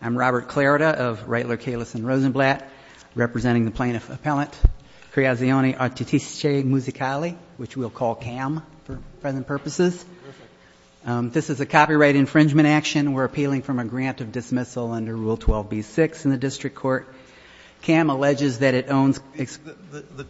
I'm Robert Clarida of Reitler, Kahless & Rosenblatt, representing the Plaintiff Appellant Creazioni Artistiche Musicali, which we'll call CAM for present purposes. This is a copyright infringement action. We're appealing from a grant of dismissal under Rule 12b-6 in the district court. CAM alleges that it owns The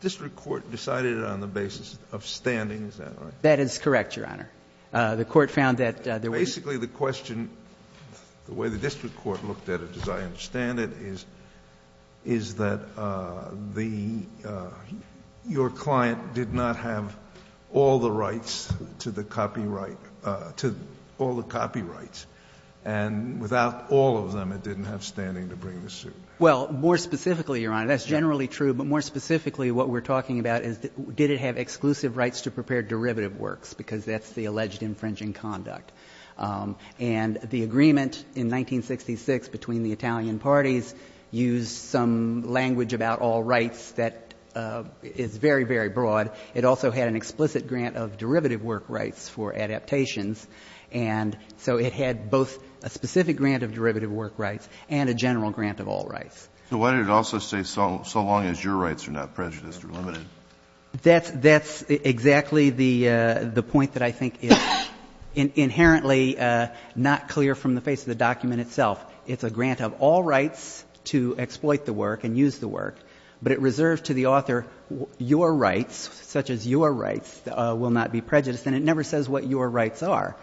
district court decided it on the basis of standing, is that right? That is correct, Your Honor. The court found that there was Basically, the question, the way the district court looked at it, as I understand it, is that your client did not have all the rights to the copyright, to all the copyrights. And without all of them, it didn't have standing to bring the suit. Well, more specifically, Your Honor, that's generally true. But more specifically, what we're talking about is did it have exclusive rights to prepare derivative works? Because that's the alleged infringing conduct. And the agreement in 1966 between the Italian parties used some language about all rights that is very, very broad. It also had an explicit grant of derivative work rights for adaptations. And so it had both a specific grant of derivative work rights and a general grant of all rights. So why did it also say so long as your rights are not prejudiced or limited? That's exactly the point that I think is inherently not clear from the face of the document itself. It's a grant of all rights to exploit the work and use the work. But it reserved to the author, your rights, such as your rights, will not be prejudiced. And it never says what your rights are.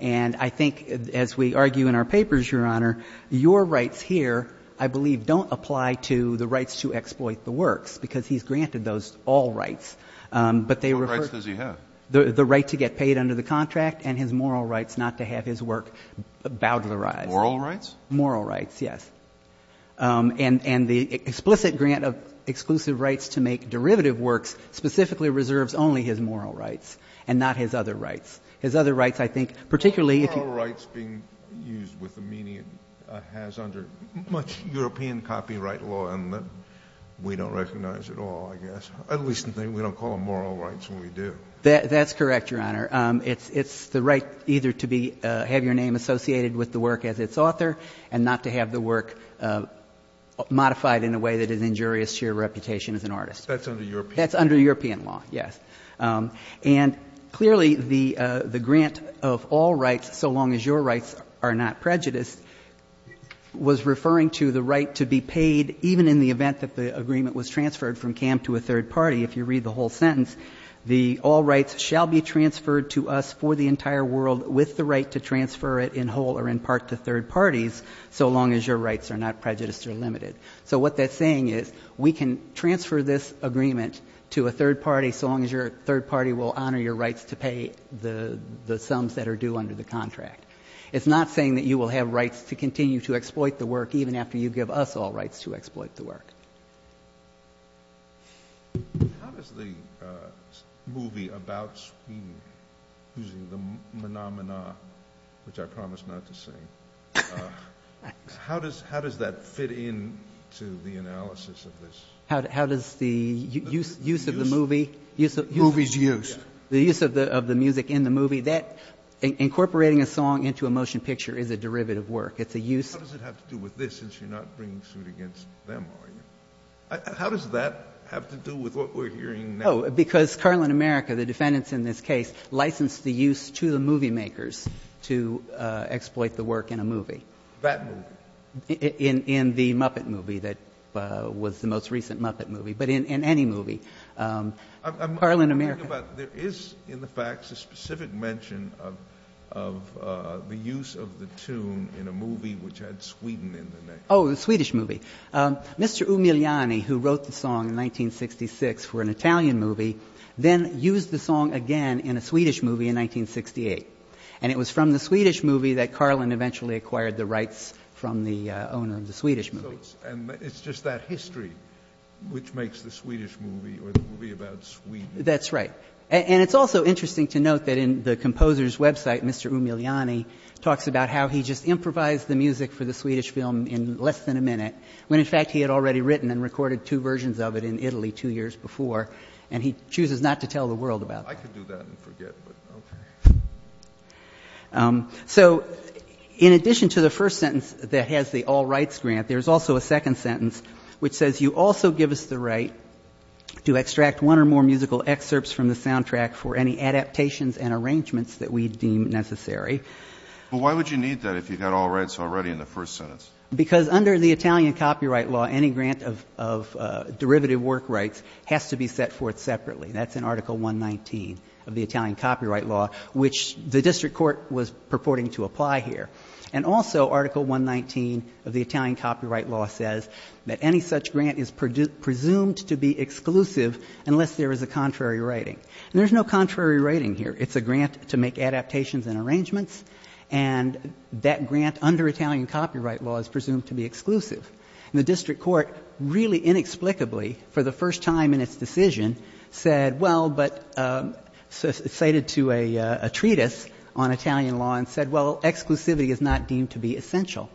And I think, as we argue in our papers, Your Honor, your rights here, I believe, don't apply to the rights to exploit the works, because he's granted those all rights. What rights does he have? The right to get paid under the contract and his moral rights not to have his work bowed to the rise. Moral rights? Moral rights, yes. And the explicit grant of exclusive rights to make derivative works specifically reserves only his moral rights and not his other rights. His other rights, I think, particularly if you— has under much European copyright law and that we don't recognize at all, I guess. At least we don't call them moral rights when we do. That's correct, Your Honor. It's the right either to have your name associated with the work as its author and not to have the work modified in a way that is injurious to your reputation as an artist. That's under European law. That's under European law, yes. And clearly the grant of all rights so long as your rights are not prejudiced was referring to the right to be paid even in the event that the agreement was transferred from CAM to a third party. If you read the whole sentence, the all rights shall be transferred to us for the entire world with the right to transfer it in whole or in part to third parties so long as your rights are not prejudiced or limited. So what that's saying is we can transfer this agreement to a third party so long as your third party will honor your rights to pay the sums that are due under the contract. It's not saying that you will have rights to continue to exploit the work even after you give us all rights to exploit the work. How does the movie about Sweden using the Menominee, which I promise not to sing, how does that fit in to the analysis of this? How does the use of the movie? Movie's use. The use of the music in the movie. Incorporating a song into a motion picture is a derivative work. How does it have to do with this since you're not bringing suit against them, are you? How does that have to do with what we're hearing now? No, because Carlin America, the defendants in this case, licensed the use to the movie makers to exploit the work in a movie. That movie? In the Muppet movie that was the most recent Muppet movie, but in any movie. Carlin America. There is in the facts a specific mention of the use of the tune in a movie which had Sweden in the name. Oh, the Swedish movie. Mr. Umiliani, who wrote the song in 1966 for an Italian movie, then used the song again in a Swedish movie in 1968. And it was from the Swedish movie that Carlin eventually acquired the rights from the owner of the Swedish movie. And it's just that history which makes the Swedish movie or the movie about Sweden. That's right. And it's also interesting to note that in the composer's website, Mr. Umiliani talks about how he just improvised the music for the Swedish film in less than a minute, when, in fact, he had already written and recorded two versions of it in Italy two years before. And he chooses not to tell the world about that. I could do that and forget, but okay. So in addition to the first sentence that has the all rights grant, there's also a second sentence which says, you also give us the right to extract one or more musical excerpts from the soundtrack for any adaptations and arrangements that we deem necessary. But why would you need that if you've got all rights already in the first sentence? Because under the Italian copyright law, any grant of derivative work rights has to be set forth separately. That's in Article 119 of the Italian copyright law, which the district court was purporting to apply here. And also Article 119 of the Italian copyright law says that any such grant is presumed to be exclusive unless there is a contrary writing. And there's no contrary writing here. It's a grant to make adaptations and arrangements, and that grant under Italian copyright law is presumed to be exclusive. And the district court really inexplicably, for the first time in its decision, said, well, but cited to a treatise on Italian law and said, well, exclusivity is not deemed to be essential.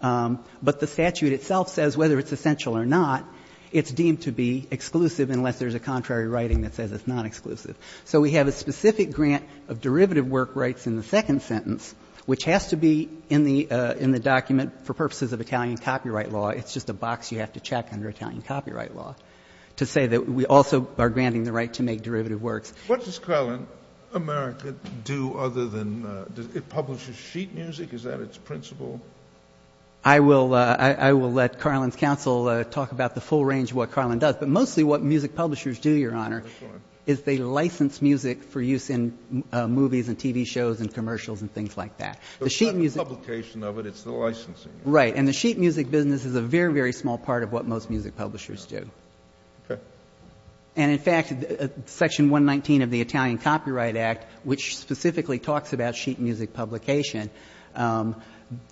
But the statute itself says whether it's essential or not, it's deemed to be exclusive unless there's a contrary writing that says it's not exclusive. So we have a specific grant of derivative work rights in the second sentence, which has to be in the document for purposes of Italian copyright law. It's just a box you have to check under Italian copyright law. To say that we also are granting the right to make derivative works. What does Carlin America do other than publish sheet music? Is that its principle? I will let Carlin's counsel talk about the full range of what Carlin does. But mostly what music publishers do, Your Honor, is they license music for use in movies and TV shows and commercials and things like that. It's not the publication of it. It's the licensing. Right. And the sheet music business is a very, very small part of what most music publishers do. Okay. And, in fact, Section 119 of the Italian Copyright Act, which specifically talks about sheet music publication,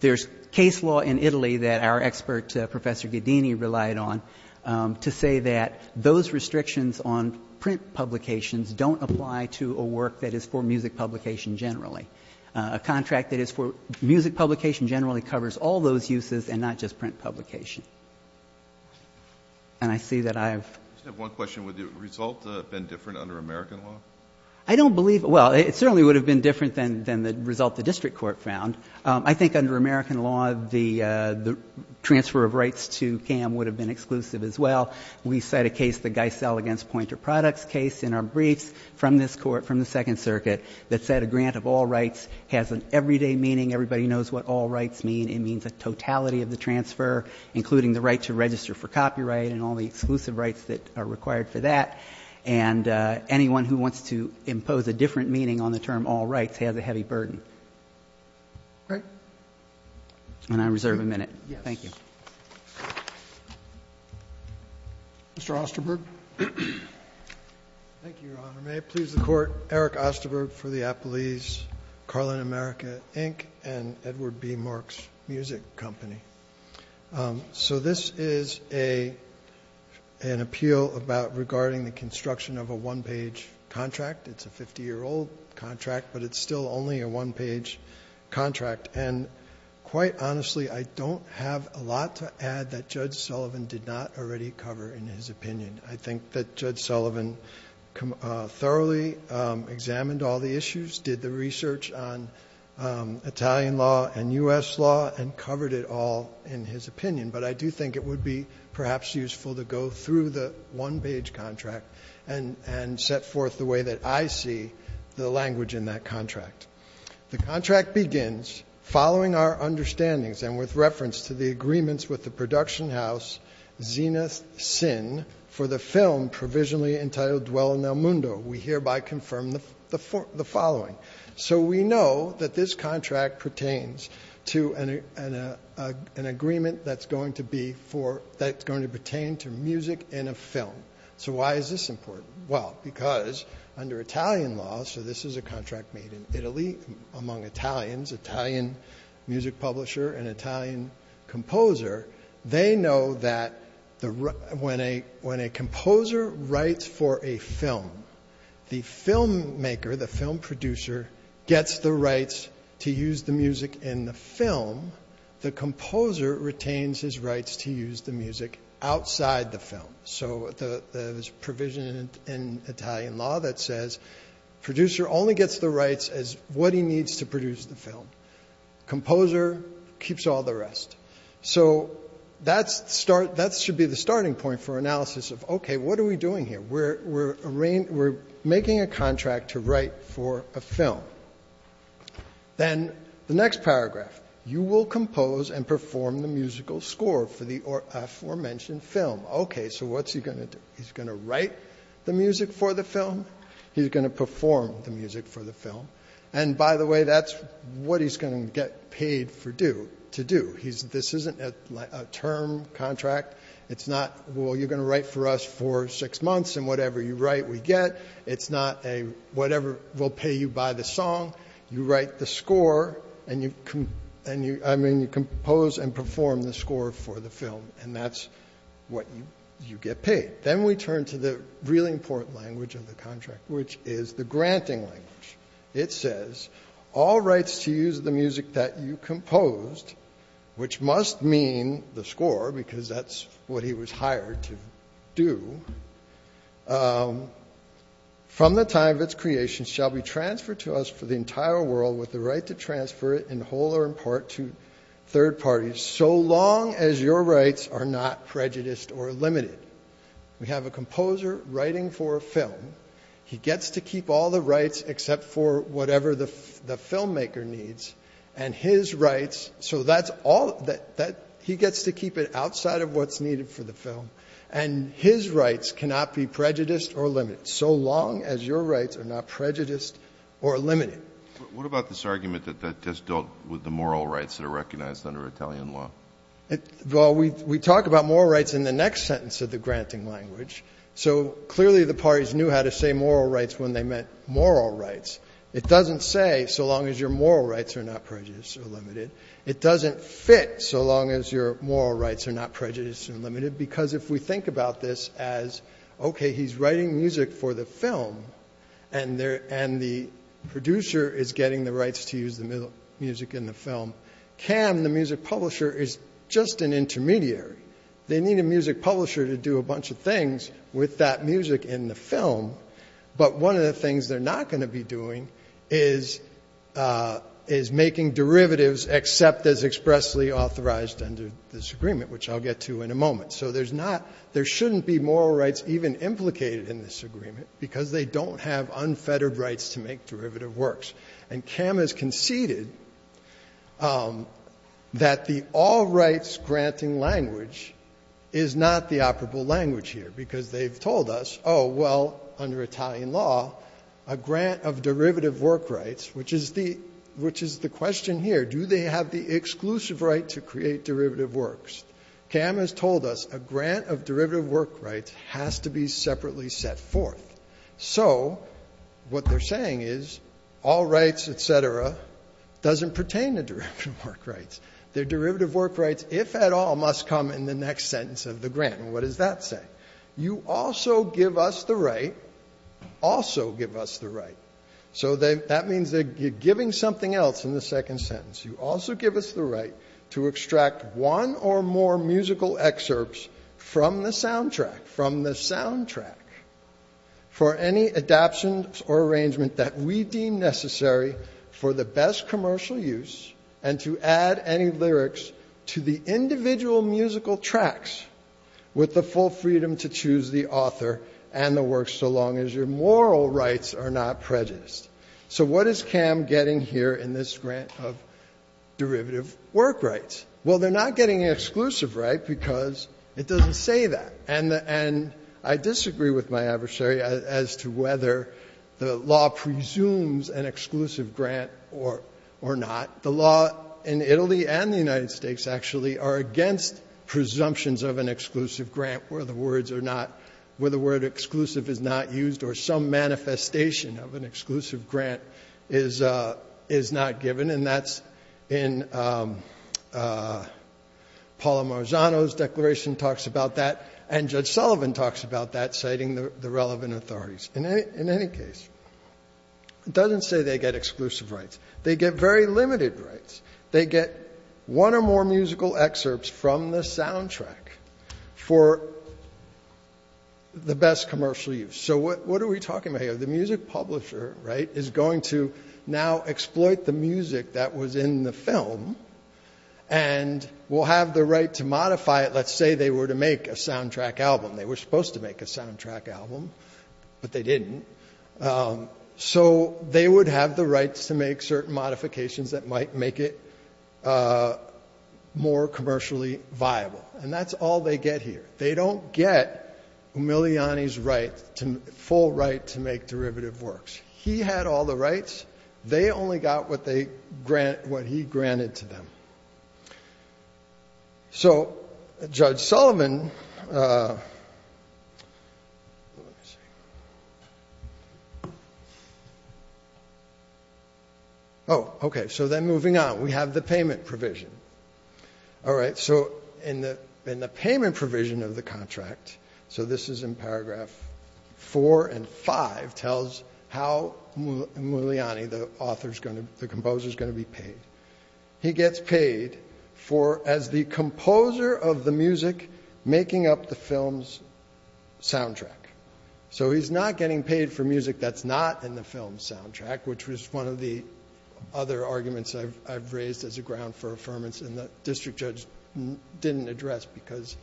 there's case law in Italy that our expert, Professor Ghedini, relied on to say that those restrictions on print publications don't apply to a work that is for music publication generally. A contract that is for music publication generally covers all those uses and not just print publication. And I see that I've — I just have one question. Would the result have been different under American law? I don't believe — well, it certainly would have been different than the result the district court found. I think under American law, the transfer of rights to CAM would have been exclusive as well. We cite a case, the Geisel against Poynter Products case in our briefs from this court, from the Second Circuit, that said a grant of all rights has an everyday meaning. Everybody knows what all rights mean. It means a totality of the transfer, including the right to register for copyright and all the exclusive rights that are required for that. And anyone who wants to impose a different meaning on the term all rights has a heavy burden. All right. And I reserve a minute. Thank you. Mr. Osterberg. Thank you, Your Honor. Your Honor, may it please the Court, Eric Osterberg for the Appellees, Carlin America, Inc., and Edward B. Marks Music Company. So this is an appeal about regarding the construction of a one-page contract. It's a 50-year-old contract, but it's still only a one-page contract. And quite honestly, I don't have a lot to add that Judge Sullivan did not already cover in his opinion. I think that Judge Sullivan thoroughly examined all the issues, did the research on Italian law and U.S. law, and covered it all in his opinion. But I do think it would be perhaps useful to go through the one-page contract and set forth the way that I see the language in that contract. The contract begins, following our understandings and with reference to the agreements with the production house, Zenith Sin, for the film provisionally entitled Dwell in El Mundo. We hereby confirm the following. So we know that this contract pertains to an agreement that's going to pertain to music in a film. So why is this important? Well, because under Italian law, so this is a contract made in Italy among Italians, Italian music publisher and Italian composer. They know that when a composer writes for a film, the filmmaker, the film producer, gets the rights to use the music in the film. The composer retains his rights to use the music outside the film. So there's provision in Italian law that says producer only gets the rights as what he needs to produce the film. Composer keeps all the rest. So that should be the starting point for analysis of, okay, what are we doing here? We're making a contract to write for a film. Then the next paragraph, you will compose and perform the musical score for the aforementioned film. Okay, so what's he going to do? He's going to write the music for the film. He's going to perform the music for the film. And, by the way, that's what he's going to get paid to do. This isn't a term contract. It's not, well, you're going to write for us for six months and whatever you write we get. It's not a whatever we'll pay you by the song. You write the score and you compose and perform the score for the film. And that's what you get paid. Then we turn to the really important language of the contract, which is the granting language. It says, all rights to use the music that you composed, which must mean the score because that's what he was hired to do, from the time of its creation shall be transferred to us for the entire world with the right to transfer it in whole or in part to third parties so long as your rights are not prejudiced or limited. We have a composer writing for a film. He gets to keep all the rights except for whatever the filmmaker needs. And his rights, so that's all, he gets to keep it outside of what's needed for the film. And his rights cannot be prejudiced or limited so long as your rights are not prejudiced or limited. What about this argument that that just dealt with the moral rights that are recognized under Italian law? Well, we talk about moral rights in the next sentence of the granting language. So clearly the parties knew how to say moral rights when they meant moral rights. It doesn't say so long as your moral rights are not prejudiced or limited. It doesn't fit so long as your moral rights are not prejudiced or limited because if we think about this as, okay, he's writing music for the film and the producer is getting the rights to use the music in the film. Cam, the music publisher, is just an intermediary. They need a music publisher to do a bunch of things with that music in the film. But one of the things they're not going to be doing is making derivatives except as expressly authorized under this agreement, which I'll get to in a moment. So there's not — there shouldn't be moral rights even implicated in this agreement because they don't have unfettered rights to make derivative works. And Cam has conceded that the all-rights granting language is not the operable language here because they've told us, oh, well, under Italian law, a grant of derivative work rights, which is the — which is the question here. Do they have the exclusive right to create derivative works? Cam has told us a grant of derivative work rights has to be separately set forth. So what they're saying is all rights, et cetera, doesn't pertain to derivative work rights. Their derivative work rights, if at all, must come in the next sentence of the grant. And what does that say? You also give us the right — also give us the right. So that means that you're giving something else in the second sentence. You also give us the right to extract one or more musical excerpts from the soundtrack, from the soundtrack, for any adaptions or arrangement that we deem necessary for the best commercial use and to add any lyrics to the individual musical tracks with the full freedom to choose the author and the work so long as your moral rights are not prejudiced. So what is Cam getting here in this grant of derivative work rights? Well, they're not getting an exclusive right because it doesn't say that. And I disagree with my adversary as to whether the law presumes an exclusive grant or not. The law in Italy and the United States actually are against presumptions of an exclusive grant where the words are not — where the word exclusive is not used or some manifestation of an exclusive grant is not given. And that's in Paula Marzano's declaration talks about that. And Judge Sullivan talks about that, citing the relevant authorities. In any case, it doesn't say they get exclusive rights. They get very limited rights. They get one or more musical excerpts from the soundtrack for the best commercial use. So what are we talking about here? The music publisher, right, is going to now exploit the music that was in the film and will have the right to modify it. Let's say they were to make a soundtrack album. They were supposed to make a soundtrack album, but they didn't. So they would have the rights to make certain modifications that might make it more commercially viable. And that's all they get here. They don't get Umiliani's full right to make derivative works. He had all the rights. They only got what he granted to them. So Judge Sullivan... Oh, okay. So then moving on, we have the payment provision. All right. So in the payment provision of the contract, so this is in paragraph 4 and 5, tells how Umiliani, the composer, is going to be paid. He gets paid for, as the composer of the music, making up the film's soundtrack. So he's not getting paid for music that's not in the film's soundtrack, which was one of the other arguments I've raised as a ground for affirmance and the district judge didn't address because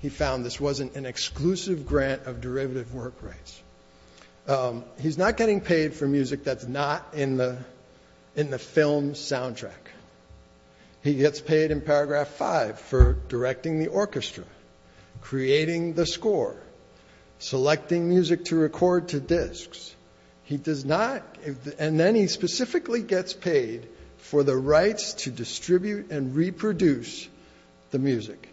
he found this wasn't an exclusive grant of derivative work rights. He's not getting paid for music that's not in the film's soundtrack. He gets paid in paragraph 5 for directing the orchestra, creating the score, selecting music to record to discs. And then he specifically gets paid for the rights to distribute and reproduce the music.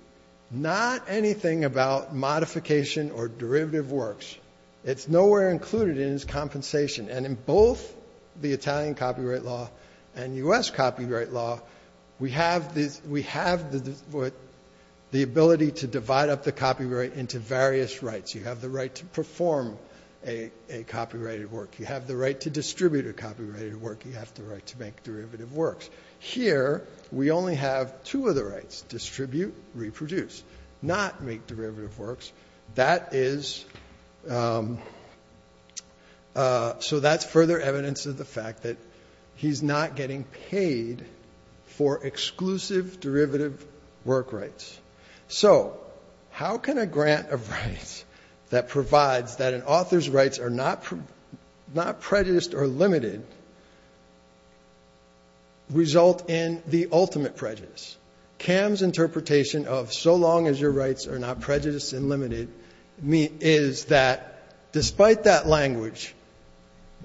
Not anything about modification or derivative works. It's nowhere included in his compensation. And in both the Italian copyright law and U.S. copyright law, we have the ability to divide up the copyright into various rights. You have the right to perform a copyrighted work. You have the right to distribute a copyrighted work. You have the right to make derivative works. Here, we only have two of the rights, distribute, reproduce, not make derivative works. That is so that's further evidence of the fact that he's not getting paid for exclusive derivative work rights. So how can a grant of rights that provides that an author's rights are not prejudiced or limited result in the ultimate prejudice? Cam's interpretation of so long as your rights are not prejudiced and limited is that despite that language,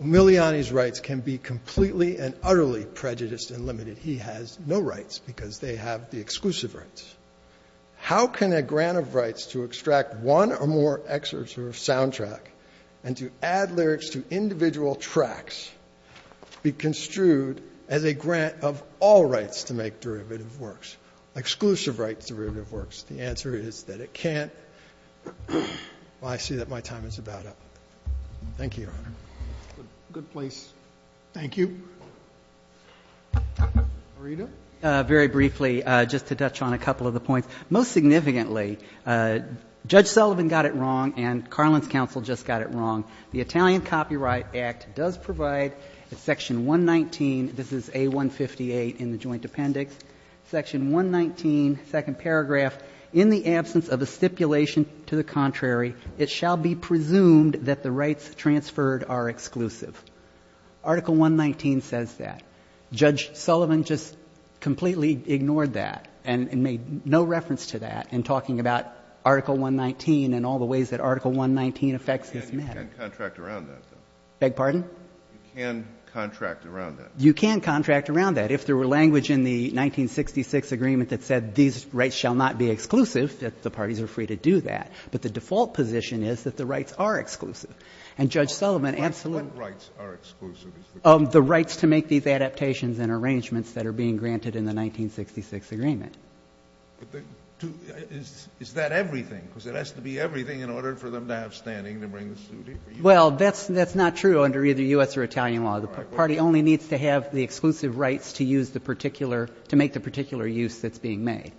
Miliani's rights can be completely and utterly prejudiced and limited. He has no rights because they have the exclusive rights. How can a grant of rights to extract one or more excerpts from a soundtrack and to add lyrics to individual tracks be construed as a grant of all rights to make derivative works, exclusive rights to derivative works? The answer is that it can't. Well, I see that my time is about up. Thank you, Your Honor. Good place. Thank you. Marita. Very briefly, just to touch on a couple of the points, most significantly, Judge Sullivan got it wrong and Carlin's counsel just got it wrong. The Italian Copyright Act does provide in Section 119, this is A158, in the Joint Appendix, Section 119, second paragraph, in the absence of a stipulation to the contrary, it shall be presumed that the rights transferred are exclusive. Article 119 says that. Judge Sullivan just completely ignored that and made no reference to that in talking about Article 119 and all the ways that Article 119 affects this matter. You can contract around that, though. Beg pardon? You can contract around that. You can contract around that. If there were language in the 1966 agreement that said these rights shall not be exclusive, the parties are free to do that. But the default position is that the rights are exclusive. And Judge Sullivan absolutely ---- What rights are exclusive? The rights to make these adaptations and arrangements that are being granted in the 1966 agreement. Is that everything? Because it has to be everything in order for them to have standing to bring this duty for you? Well, that's not true under either U.S. or Italian law. The party only needs to have the exclusive rights to use the particular, to make the particular use that's being made.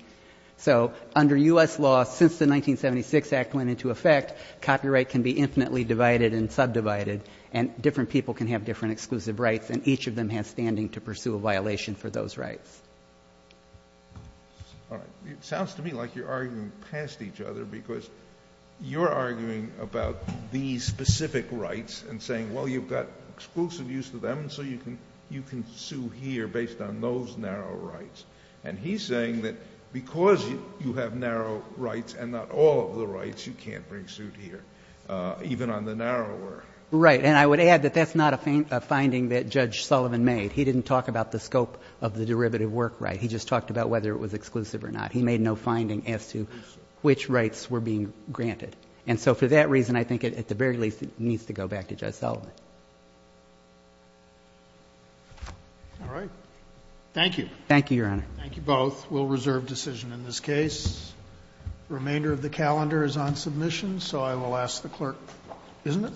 So under U.S. law, since the 1976 Act went into effect, copyright can be infinitely divided and subdivided, and different people can have different exclusive rights, and each of them has standing to pursue a violation for those rights. All right. It sounds to me like you're arguing past each other because you're arguing about these specific rights and saying, well, you've got exclusive use to them, so you can sue here based on those narrow rights. And he's saying that because you have narrow rights and not all of the rights, you can't bring suit here, even on the narrower. Right. And I would add that that's not a finding that Judge Sullivan made. He didn't talk about the scope of the derivative work right. He just talked about whether it was exclusive or not. He made no finding as to which rights were being granted. And so for that reason, I think at the very least, it needs to go back to Judge Sullivan. All right. Thank you. Thank you, Your Honor. Thank you both. We'll reserve decision in this case. Remainder of the calendar is on submission, so I will ask the clerk. Isn't it?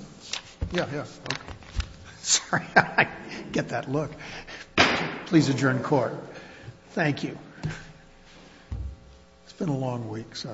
Yeah, yeah. Okay. Sorry. I get that look. Please adjourn court. Thank you. It's been a long week. Sorry.